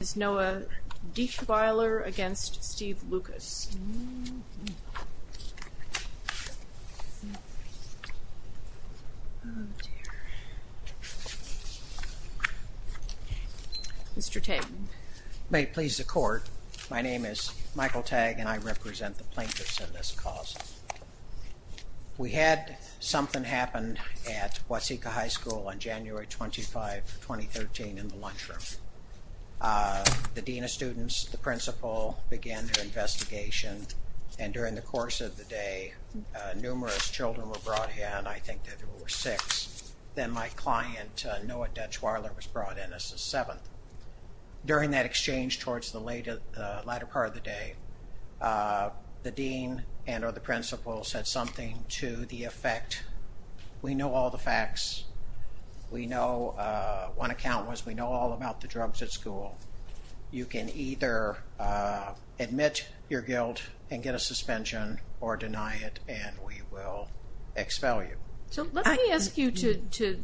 Is Noah Dietchweiler against Steve Lucas? Mr. Tagg. May it please the court, my name is Michael Tagg and I represent the plaintiffs in this cause. We had something happen at Waseca High School on January 25, 2013 in the lunchroom. The dean of students, the principal, began their investigation and during the course of the day numerous children were brought in. I think that there were six. Then my client Noah Dietchweiler was brought in as the seventh. During that exchange towards the later part of the day, the dean and or the principal said something to the effect, we know all facts. We know one account was we know all about the drugs at school. You can either admit your guilt and get a suspension or deny it and we will expel you. So let me ask you to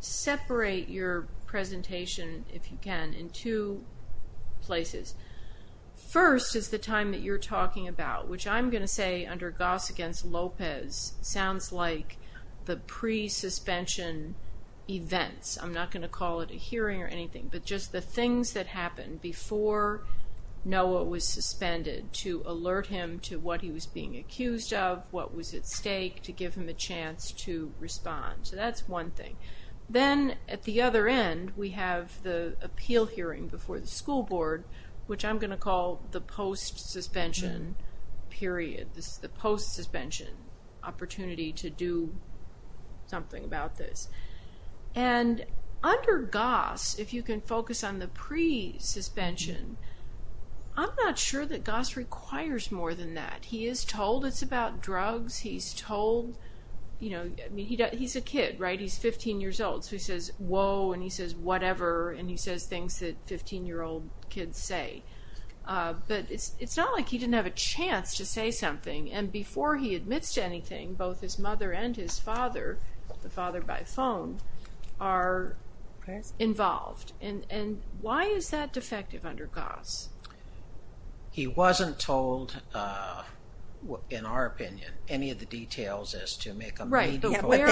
separate your presentation, if you can, in two places. First is the time that you're talking about, which I'm going to say under Goss against Lopez sounds like the pre-suspension events. I'm not going to call it a hearing or anything, but just the things that happened before Noah was suspended to alert him to what he was being accused of, what was at stake, to give him a chance to respond. So that's one thing. Then at the other end we have the appeal hearing before the school board, which I'm going to call the post suspension opportunity to do something about this. And under Goss, if you can focus on the pre-suspension, I'm not sure that Goss requires more than that. He is told it's about drugs. He's told, you know, he's a kid, right? He's 15 years old. So he says whoa and he says whatever and he says things that 15 year old kids say. But it's not like he didn't have a chance to say something and before he admits to anything, both his mother and his father, the father by phone, are involved. And why is that defective under Goss? He wasn't told, in our opinion, any of the details as to make him... Right, but where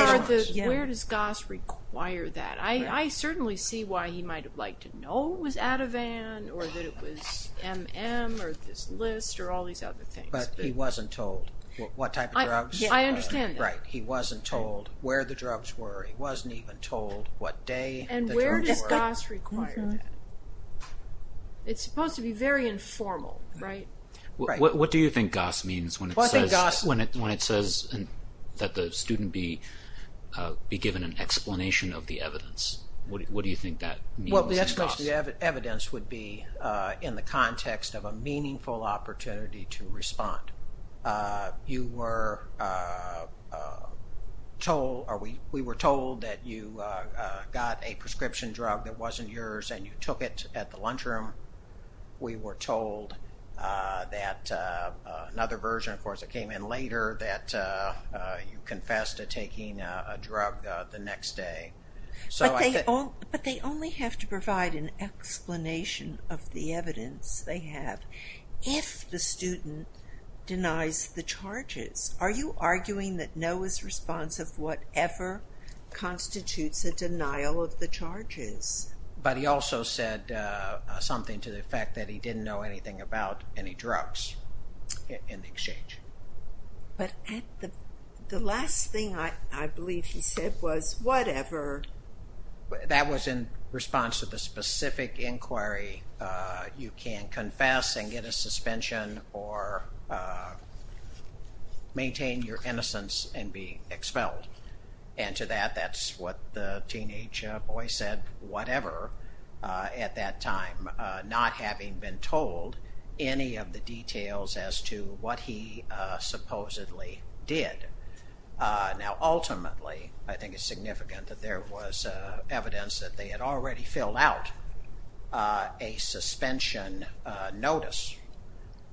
does Goss require that? I certainly see why he might have liked to know it was Ativan or that it was M.M. or this list or all these other things. But he wasn't told what type of drugs. I understand. Right, he wasn't told where the drugs were. He wasn't even told what day. And where does Goss require that? It's supposed to be very informal, right? What do you think Goss means when it says that the student be given an opportunity to respond? What do you think that means? Well, the evidence would be in the context of a meaningful opportunity to respond. You were told or we were told that you got a prescription drug that wasn't yours and you took it at the lunchroom. We were told that another version, of course, it came in later, that you confessed to But they only have to provide an explanation of the evidence they have if the student denies the charges. Are you arguing that Noah's response of whatever constitutes a denial of the charges? But he also said something to the effect that he didn't know anything about any drugs in the exchange. But the last thing I believe he said was whatever. That was in response to the specific inquiry. You can't confess and get a suspension or maintain your innocence and be expelled. And to that that's what the teenage boy said whatever at that time, not having been told any of the details as to what he supposedly did. Now ultimately I think it's significant that there was evidence that they had already filled out a suspension notice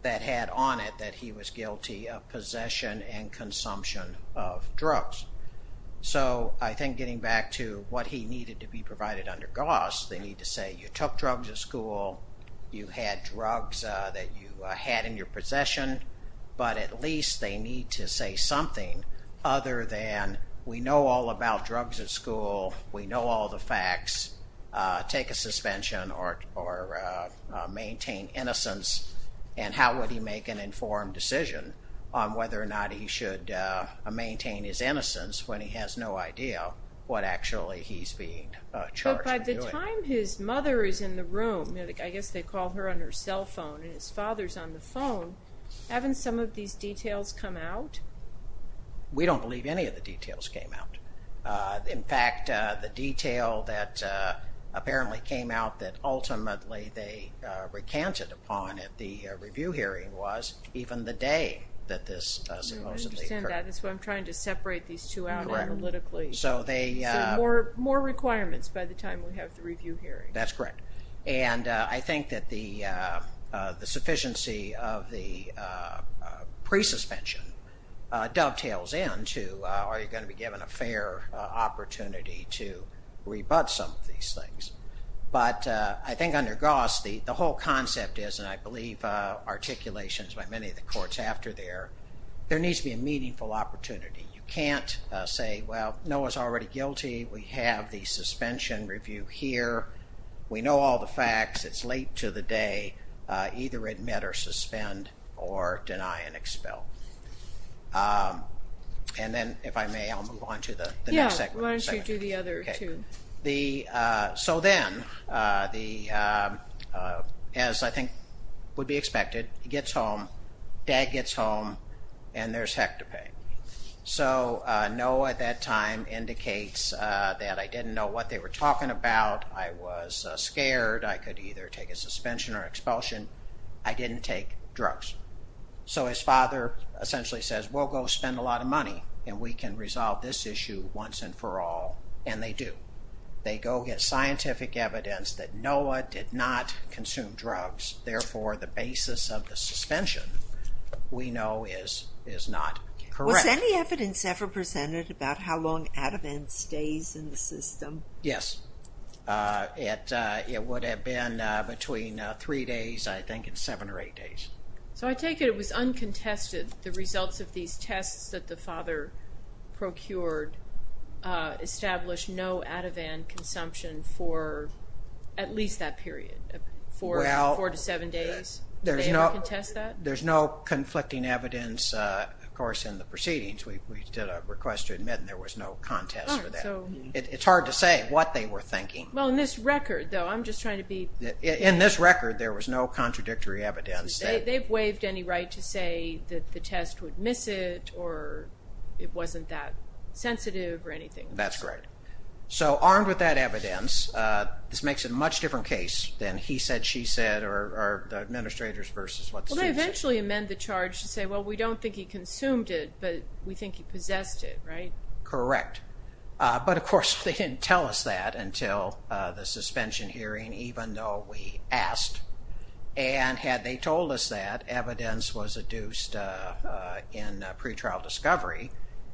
that had on it that he was guilty of possession and consumption of drugs. So I think getting back to what he needed to be provided under Gauss, they need to say you took drugs at school, you had drugs that you had in your possession, but at least they need to say something other than we know all about drugs at school, we know all the facts, take a suspension or maintain innocence. And how would he make an informed decision on whether or not he should maintain his innocence when he has no idea what actually he's being charged with doing. By the time his mother is in the room, I guess they call her on her cell phone, and his father's on the phone, haven't some of these details come out? We don't believe any of the details came out. In fact, the detail that apparently came out that ultimately they recanted upon at the review hearing was even the day that this supposedly occurred. I understand that, that's why I'm trying to separate these two out analytically. So more requirements by the time we have the review hearing. That's correct. And I think that the sufficiency of the pre-suspension dovetails in to are you going to be given a fair opportunity to rebut some of these things. But I think under Gauss, the whole concept is, and I believe articulations by many of the courts after there, there needs to be a meaningful opportunity. You can't say, well, Noah's already guilty, we have the suspension review here, we know all the facts, it's late to the day, either admit or suspend, or deny and expel. And then, if I may, I'll move on to the next segment. Yeah, why don't you do the other two. So then, as I think would be expected, he gets home, dad gets home, and there's hectopeng. So Noah at that time indicates that I didn't know what they were talking about, I was scared, I could either take a suspension or expulsion, I didn't take drugs. So his father essentially says, we'll go spend a lot of money, and we can resolve this issue once and for all, and they do. They go get scientific evidence that Noah did not consume drugs, therefore the basis of the suspension, we know, is not correct. Was any evidence ever presented about how long Ativan stays in the system? Yes. It would have been between three days, I think, and seven or eight days. So I take it it was uncontested, the results of these tests that the father procured, established no Ativan consumption for at least that period, four to seven days? Did they ever contest that? There's no conflicting evidence, of course, in the proceedings. We did a request to admit, and there was no contest for that. It's hard to say what they were thinking. Well, in this record, though, I'm just trying to be... They've waived any right to say that the test would miss it, or it wasn't that sensitive, or anything like that? That's correct. So armed with that evidence, this makes it a much different case than he said, she said, or the administrators versus what the state said. Well, they eventually amend the charge to say, well, we don't think he consumed it, but we think he possessed it, right? Correct. But of course, they didn't tell us that until the suspension hearing, even though we asked. And had they told us that, evidence was adduced in pretrial discovery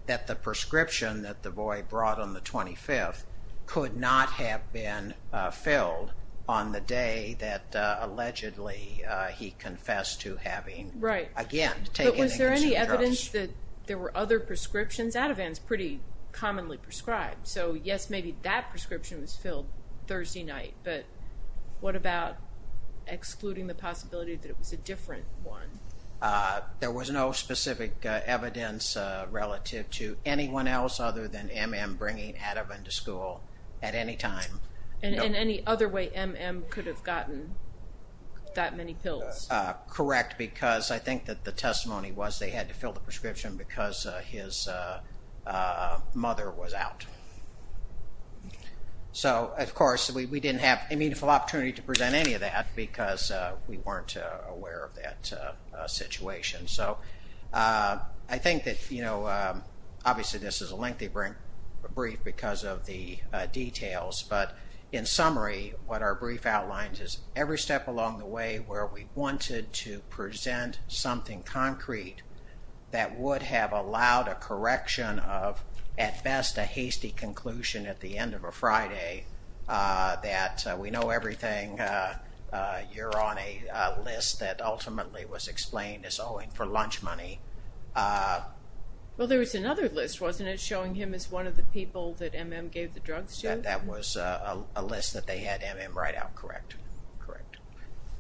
that the prescription that the boy brought on the 25th could not have been filled on the day that, allegedly, he confessed to having, again, taken a concentrate. Right. But was there any evidence that there were other prescriptions? Ativan's pretty commonly prescribed. So yes, maybe that prescription was filled Thursday night, but what about excluding the possibility that it was a different one? There was no specific evidence relative to anyone else other than M.M. bringing Ativan to school at any time. And any other way M.M. could have gotten that many pills? Correct, because I think that the testimony was they had to fill the prescription because his mother was out. So, of course, we didn't have a meaningful opportunity to present any of that because we weren't aware of that situation. So, I think that, you know, obviously this is a lengthy brief because of the details, but in summary, what our brief outlines is every step along the way where we wanted to present something concrete that would have allowed a correction of, at best, a hasty conclusion at the end of a Friday, that we know everything, you're on a list that ultimately was explained as owing for lunch money. Well, there was another list, wasn't it, showing him as one of the people that M.M. gave the drugs to? That was a list that they had M.M. write out, correct. Correct.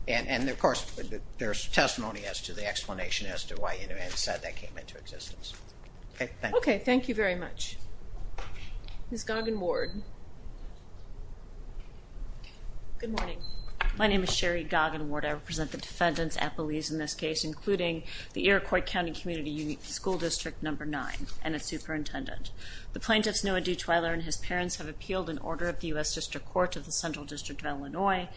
And, of course, there's testimony as to the explanation as to why Inouye said that came into existence. Okay, thank you. Okay, thank you very much. Ms. Goggin-Ward. Good morning. My name is Sherry Goggin-Ward. I represent the defendants at Belize in this case, including the Iroquois County Community School District Number 9 and its superintendent. The plaintiffs Noah D. Twyler and his parents have appealed an order of the U.S. District Court of the Central District of Illinois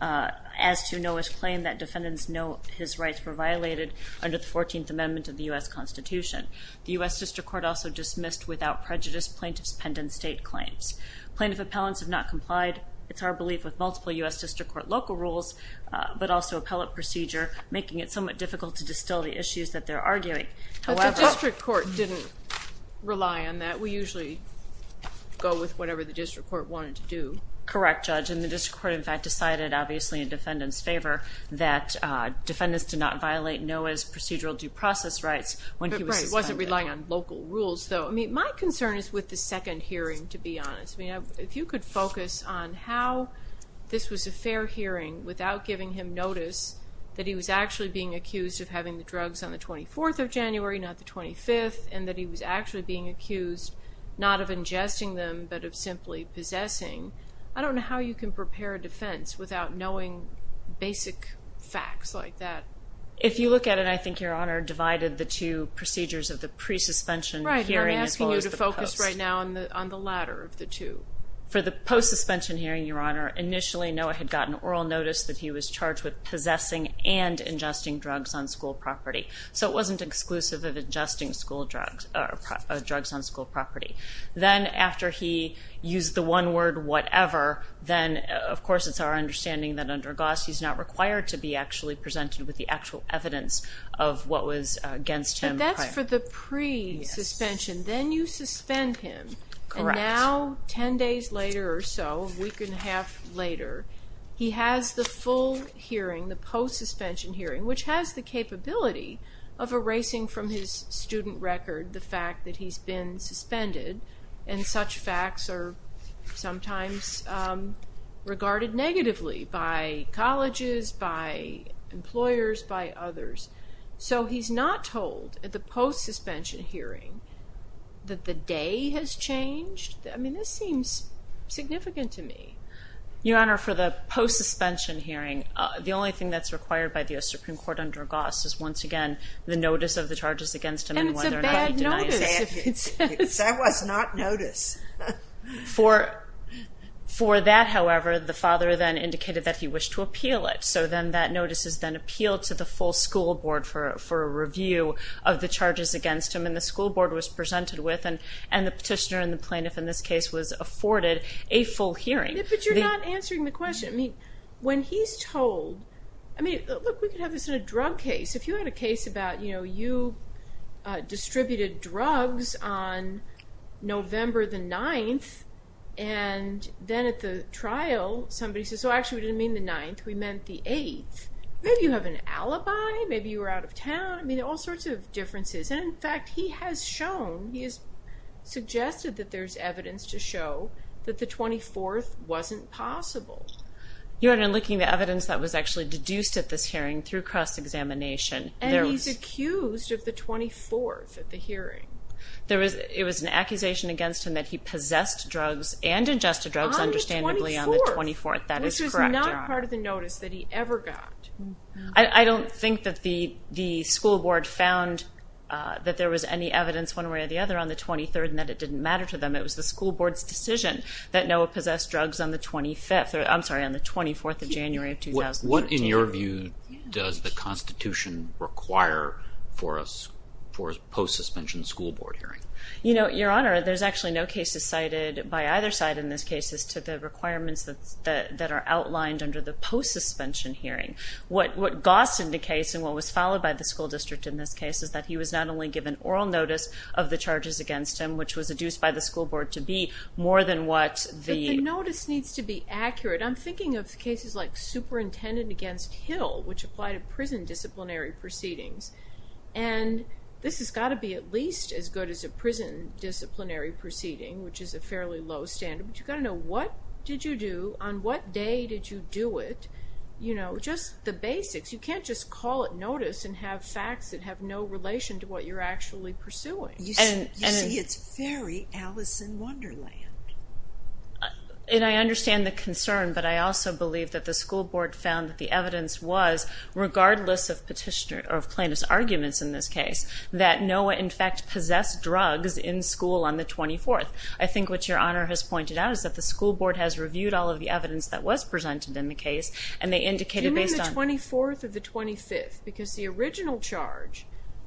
as to Noah's claim that defendants know his rights were violated under the 14th Amendment of the U.S. Constitution. The U.S. District Court also dismissed, without prejudice, plaintiffs' pendant state claims. Plaintiff appellants have not complied, it's our belief, with multiple U.S. District Court local rules, but also appellate procedure, making it somewhat difficult to distill the issues that they're arguing. But the District Court didn't rely on that. We usually go with whatever the District Court wanted to do. Correct, Judge. And the District Court, in fact, decided, obviously in defendants' favor, that defendants did not violate Noah's procedural due process rights when he was suspended. It wasn't relying on local rules, though. My concern is with the second hearing, to be honest. If you could focus on how this was a fair hearing without giving him notice that he was actually being accused of having the drugs on the 24th of January, not the 25th, and that he was actually being accused, not of ingesting them, but of simply possessing, I don't know how you can prepare a defense without knowing basic facts like that. If you look at it, I think Your Honor divided the two procedures of the pre-suspension hearing as well as the post. Right, and I'm asking you to focus right now on the latter of the two. For the post-suspension hearing, Your Honor, initially Noah had gotten oral notice that he was charged with possessing and ingesting drugs on school property. So it wasn't exclusive of ingesting drugs on school property. Then, after he used the one word, whatever, then, of course, it's our understanding that under GOSS, he's not required to be actually presented with the actual evidence of what was against him. But that's for the pre-suspension. Yes. Then you suspend him. Correct. Now, ten days later or so, a week and a half later, he has the full hearing, the post-suspension hearing, which has the capability of erasing from his student record the fact that he's been suspended, and such facts are sometimes regarded negatively by colleges, by employers, by others. So he's not told at the post-suspension hearing that the day has changed? I mean, this seems significant to me. Your Honor, for the post-suspension hearing, the only thing that's required by the Supreme Court under GOSS is, once again, the notice of the charges against him and whether or not he denies it. And it's a bad notice. That was not notice. For that, however, the father then indicated that he wished to appeal it. So then that notice is then appealed to the full school board for a review of the charges against him, and the school board was presented with, and the petitioner and the plaintiff, in this case, was afforded a full hearing. But you're not answering the question. I mean, when he's told... I mean, look, we could have this in a drug case. If you had a case about, you know, you distributed drugs on November the 9th, and then at the trial, somebody says, so actually, we didn't mean the 9th. We meant the 8th. Maybe you have an alibi. Maybe you were out of town. I mean, all sorts of differences. And, in fact, he has shown, he has suggested that there's evidence to show that the 24th wasn't possible. Your Honor, in looking at the evidence that was actually deduced at this hearing through cross-examination, there was... And he's accused of the 24th at the hearing. It was an accusation against him that he possessed drugs and ingested drugs, understandably, on the 24th. On the 24th. That is correct, Your Honor. Which was not part of the notice that he ever got. I don't think that the school board found that there was any evidence one way or the other on the 23rd and that it didn't matter to them. It was the school board's decision that Noah possessed drugs on the 25th. I'm sorry, on the 24th of January of 2013. What, in your view, does the Constitution require for a post-suspension school board hearing? You know, Your Honor, there's actually no cases cited by either side in this case as to the requirements that are outlined under the post-suspension hearing. What gaussed in the case and what was followed by the school district in this case is that he was not only given oral notice of the charges against him, which was deduced by the school board to be more than what the... The notice needs to be accurate. I'm thinking of cases like Superintendent against Hill, which applied to prison disciplinary proceedings. And this has got to be at least as good as a prison disciplinary proceeding, which is a fairly low standard. But you've got to know, what did you do? On what day did you do it? You know, just the basics. You can't just call it notice and have facts that have no relation to what you're actually pursuing. You see, it's very Alice in Wonderland. And I understand the concern, but I also believe that the school board found that the evidence was, regardless of petitioner... or plaintiff's arguments in this case, that Noah, in fact, possessed drugs in school on the 24th. I think what Your Honor has pointed out is that the school board has reviewed all of the evidence that was presented in the case and they indicated based on... You mean the 24th or the 25th? Because the original charge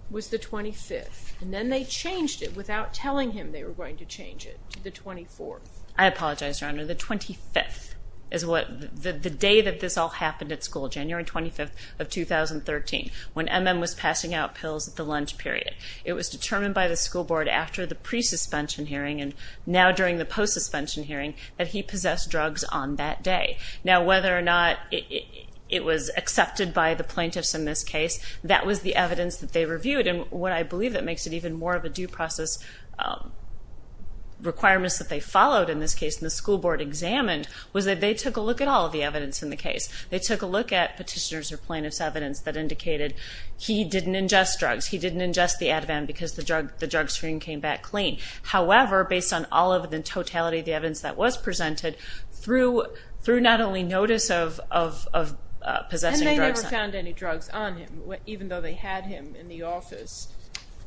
was the 25th. And then they changed it without telling him they were going to change it to the 24th. I apologize, Your Honor. The 25th is what... The day that this all happened at school, January 25th of 2013, when M.M. was passing out pills at the lunch period. It was determined by the school board after the pre-suspension hearing and now during the post-suspension hearing that he possessed drugs on that day. Now, whether or not it was accepted by the plaintiffs in this case, that was the evidence that they reviewed. And what I believe that makes it even more of a due process... requirements that they followed in this case and the school board examined was that they took a look at all of the evidence in the case. They took a look at petitioners' or plaintiffs' evidence that indicated he didn't ingest drugs, he didn't ingest the Ativan because the drug screen came back clean. However, based on all of the totality of the evidence that was presented, through not only notice of possessing drugs... And they never found any drugs on him, even though they had him in the office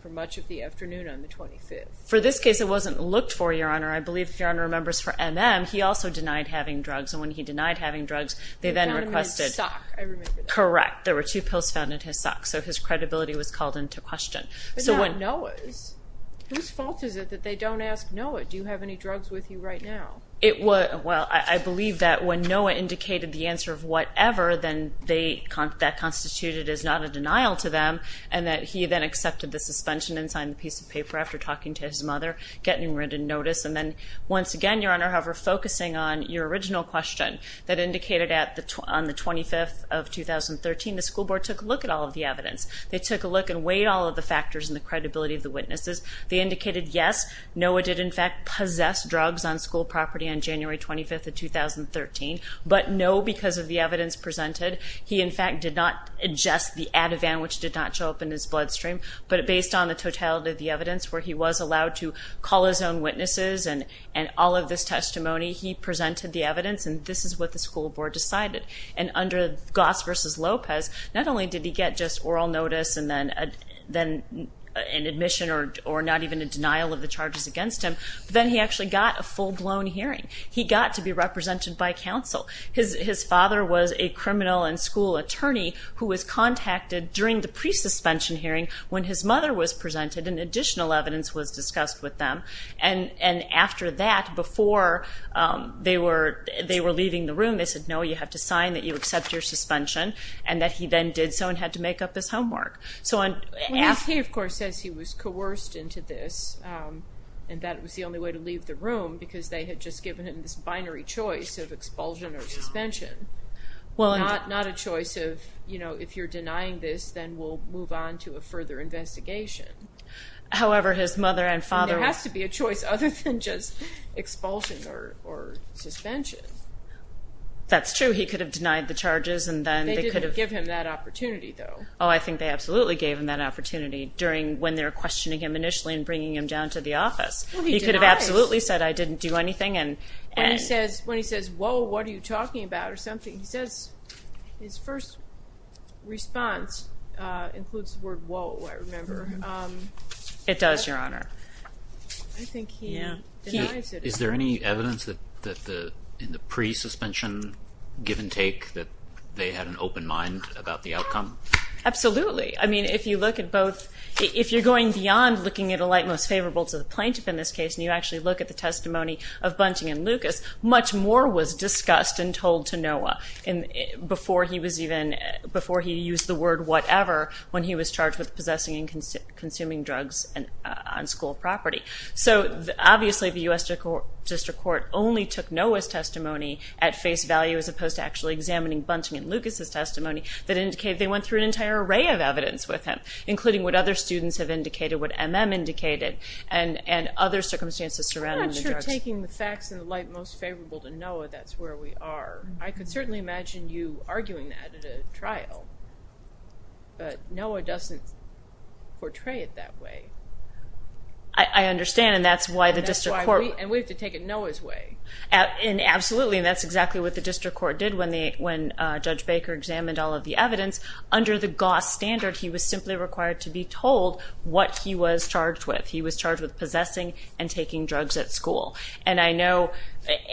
for much of the afternoon on the 25th. For this case, it wasn't looked for, Your Honor. I believe if Your Honor remembers for M.M., he also denied having drugs. And when he denied having drugs, they then requested... He found them in his sock, I remember that. Correct. There were two pills found in his sock. So his credibility was called into question. But not Noah's. Whose fault is it that they don't ask Noah, do you have any drugs with you right now? Well, I believe that when Noah indicated the answer of whatever, then that constituted as not a denial to them. And that he then accepted the suspension and signed the piece of paper after talking to his mother, getting written notice. And then, once again, Your Honor, however, focusing on your original question that indicated on the 25th of 2013, the school board took a look at all of the evidence. They took a look and weighed all of the factors and the credibility of the witnesses. They indicated yes, Noah did in fact possess drugs on school property on January 25th of 2013. But no, because of the evidence presented, he in fact did not adjust the Ativan, which did not show up in his bloodstream. But based on the totality of the evidence, where he was allowed to call his own witnesses and all of this testimony, he presented the evidence and this is what the school board decided. And under Goss v. Lopez, not only did he get just oral notice and then an admission or not even a denial of the charges against him, but then he actually got a full-blown hearing. He got to be represented by counsel. His father was a criminal and school attorney who was contacted during the pre-suspension hearing when his mother was presented and additional evidence was discussed with them. And after that, before they were leaving the room, they said, no, you have to sign that you accept your suspension. And that he then did so and had to make up his homework. He of course says he was coerced into this and that it was the only way to leave the room because they had just given him this binary choice of expulsion or suspension. Not a choice of, you know, if you're denying this then we'll move on to a further investigation. However, his mother and father... There has to be a choice other than just expulsion or suspension. That's true. He could have denied the charges and then... They didn't give him that opportunity, though. Oh, I think they absolutely gave him that opportunity when they were questioning him initially and bringing him down to the office. He could have absolutely said, I didn't do anything. When he says, whoa, what are you talking about? He says his first response includes the word whoa, I remember. It does, Your Honor. I think he denies it. Is there any evidence in the pre-suspension give and take that they had an open mind about the outcome? Absolutely. I mean, if you look at both... If you're going beyond looking at a light most favorable to the plaintiff in this case and you actually look at the testimony of Bunting and Lucas, much more was discussed and told to Noah before he used the word whatever when he was charged with possessing and consuming drugs on school property. So, obviously, the U.S. District Court only took Noah's testimony at face value as opposed to actually examining Bunting and Lucas's testimony that indicated they went through an entire array of evidence with him, including what other students have indicated, what MM indicated, and other circumstances surrounding the drugs. If we're taking the facts in the light most favorable to Noah, that's where we are. I could certainly imagine you arguing that at a trial, but Noah doesn't portray it that way. I understand, and that's why the District Court... And we have to take it Noah's way. Absolutely, and that's exactly what the District Court did when Judge Baker examined all of the evidence. Under the GOSS standard, he was simply required to be told what he was charged with. He was charged with possessing and taking drugs at school. And I know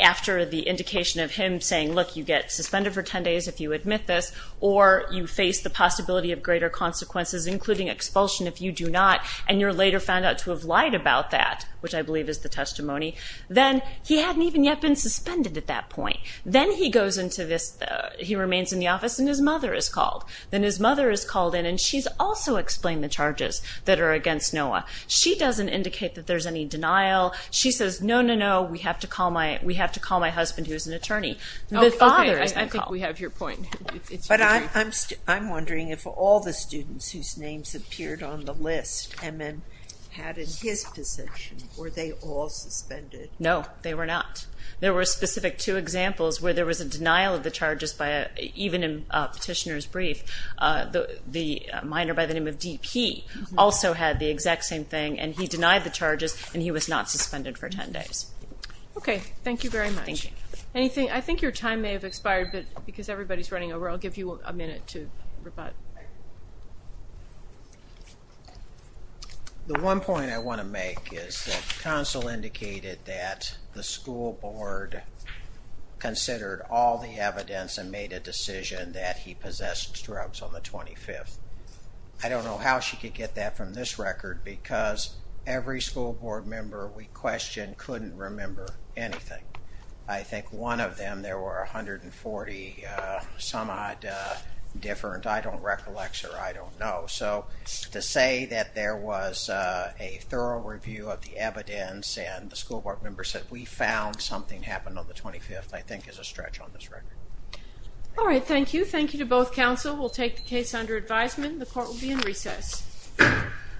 after the indication of him saying, look, you get suspended for 10 days if you admit this, or you face the possibility of greater consequences, including expulsion if you do not, and you're later found out to have lied about that, which I believe is the testimony, then he hadn't even yet been suspended at that point. Then he goes into this... He remains in the office, and his mother is called. Then his mother is called in, and she's also explained the charges that are against Noah. She doesn't indicate that there's any denial. She says, no, no, no, we have to call my husband, who is an attorney. The father is called. I think we have your point. But I'm wondering if all the students whose names appeared on the list and then had his position, were they all suspended? No, they were not. There were specific two examples where there was a denial of the charges even in a petitioner's brief. The minor by the name of D.P. also had the exact same thing, and he denied the charges, and he was not suspended for 10 days. Okay, thank you very much. I think your time may have expired, but because everybody's running over, I'll give you a minute to rebut. The one point I want to make is that counsel indicated that the school board considered all the evidence and made a decision that he possessed drugs on the 25th. I don't know how she could get that from this record, because every school board member we questioned couldn't remember anything. I think one of them, there were 140 some odd different, I don't recollect, or I don't know. So to say that there was a thorough review of the evidence and the school board member said, we found something happened on the 25th, I think is a stretch on this record. All right, thank you. Thank you to both counsel. We'll take the case under advisement. The court will be in recess.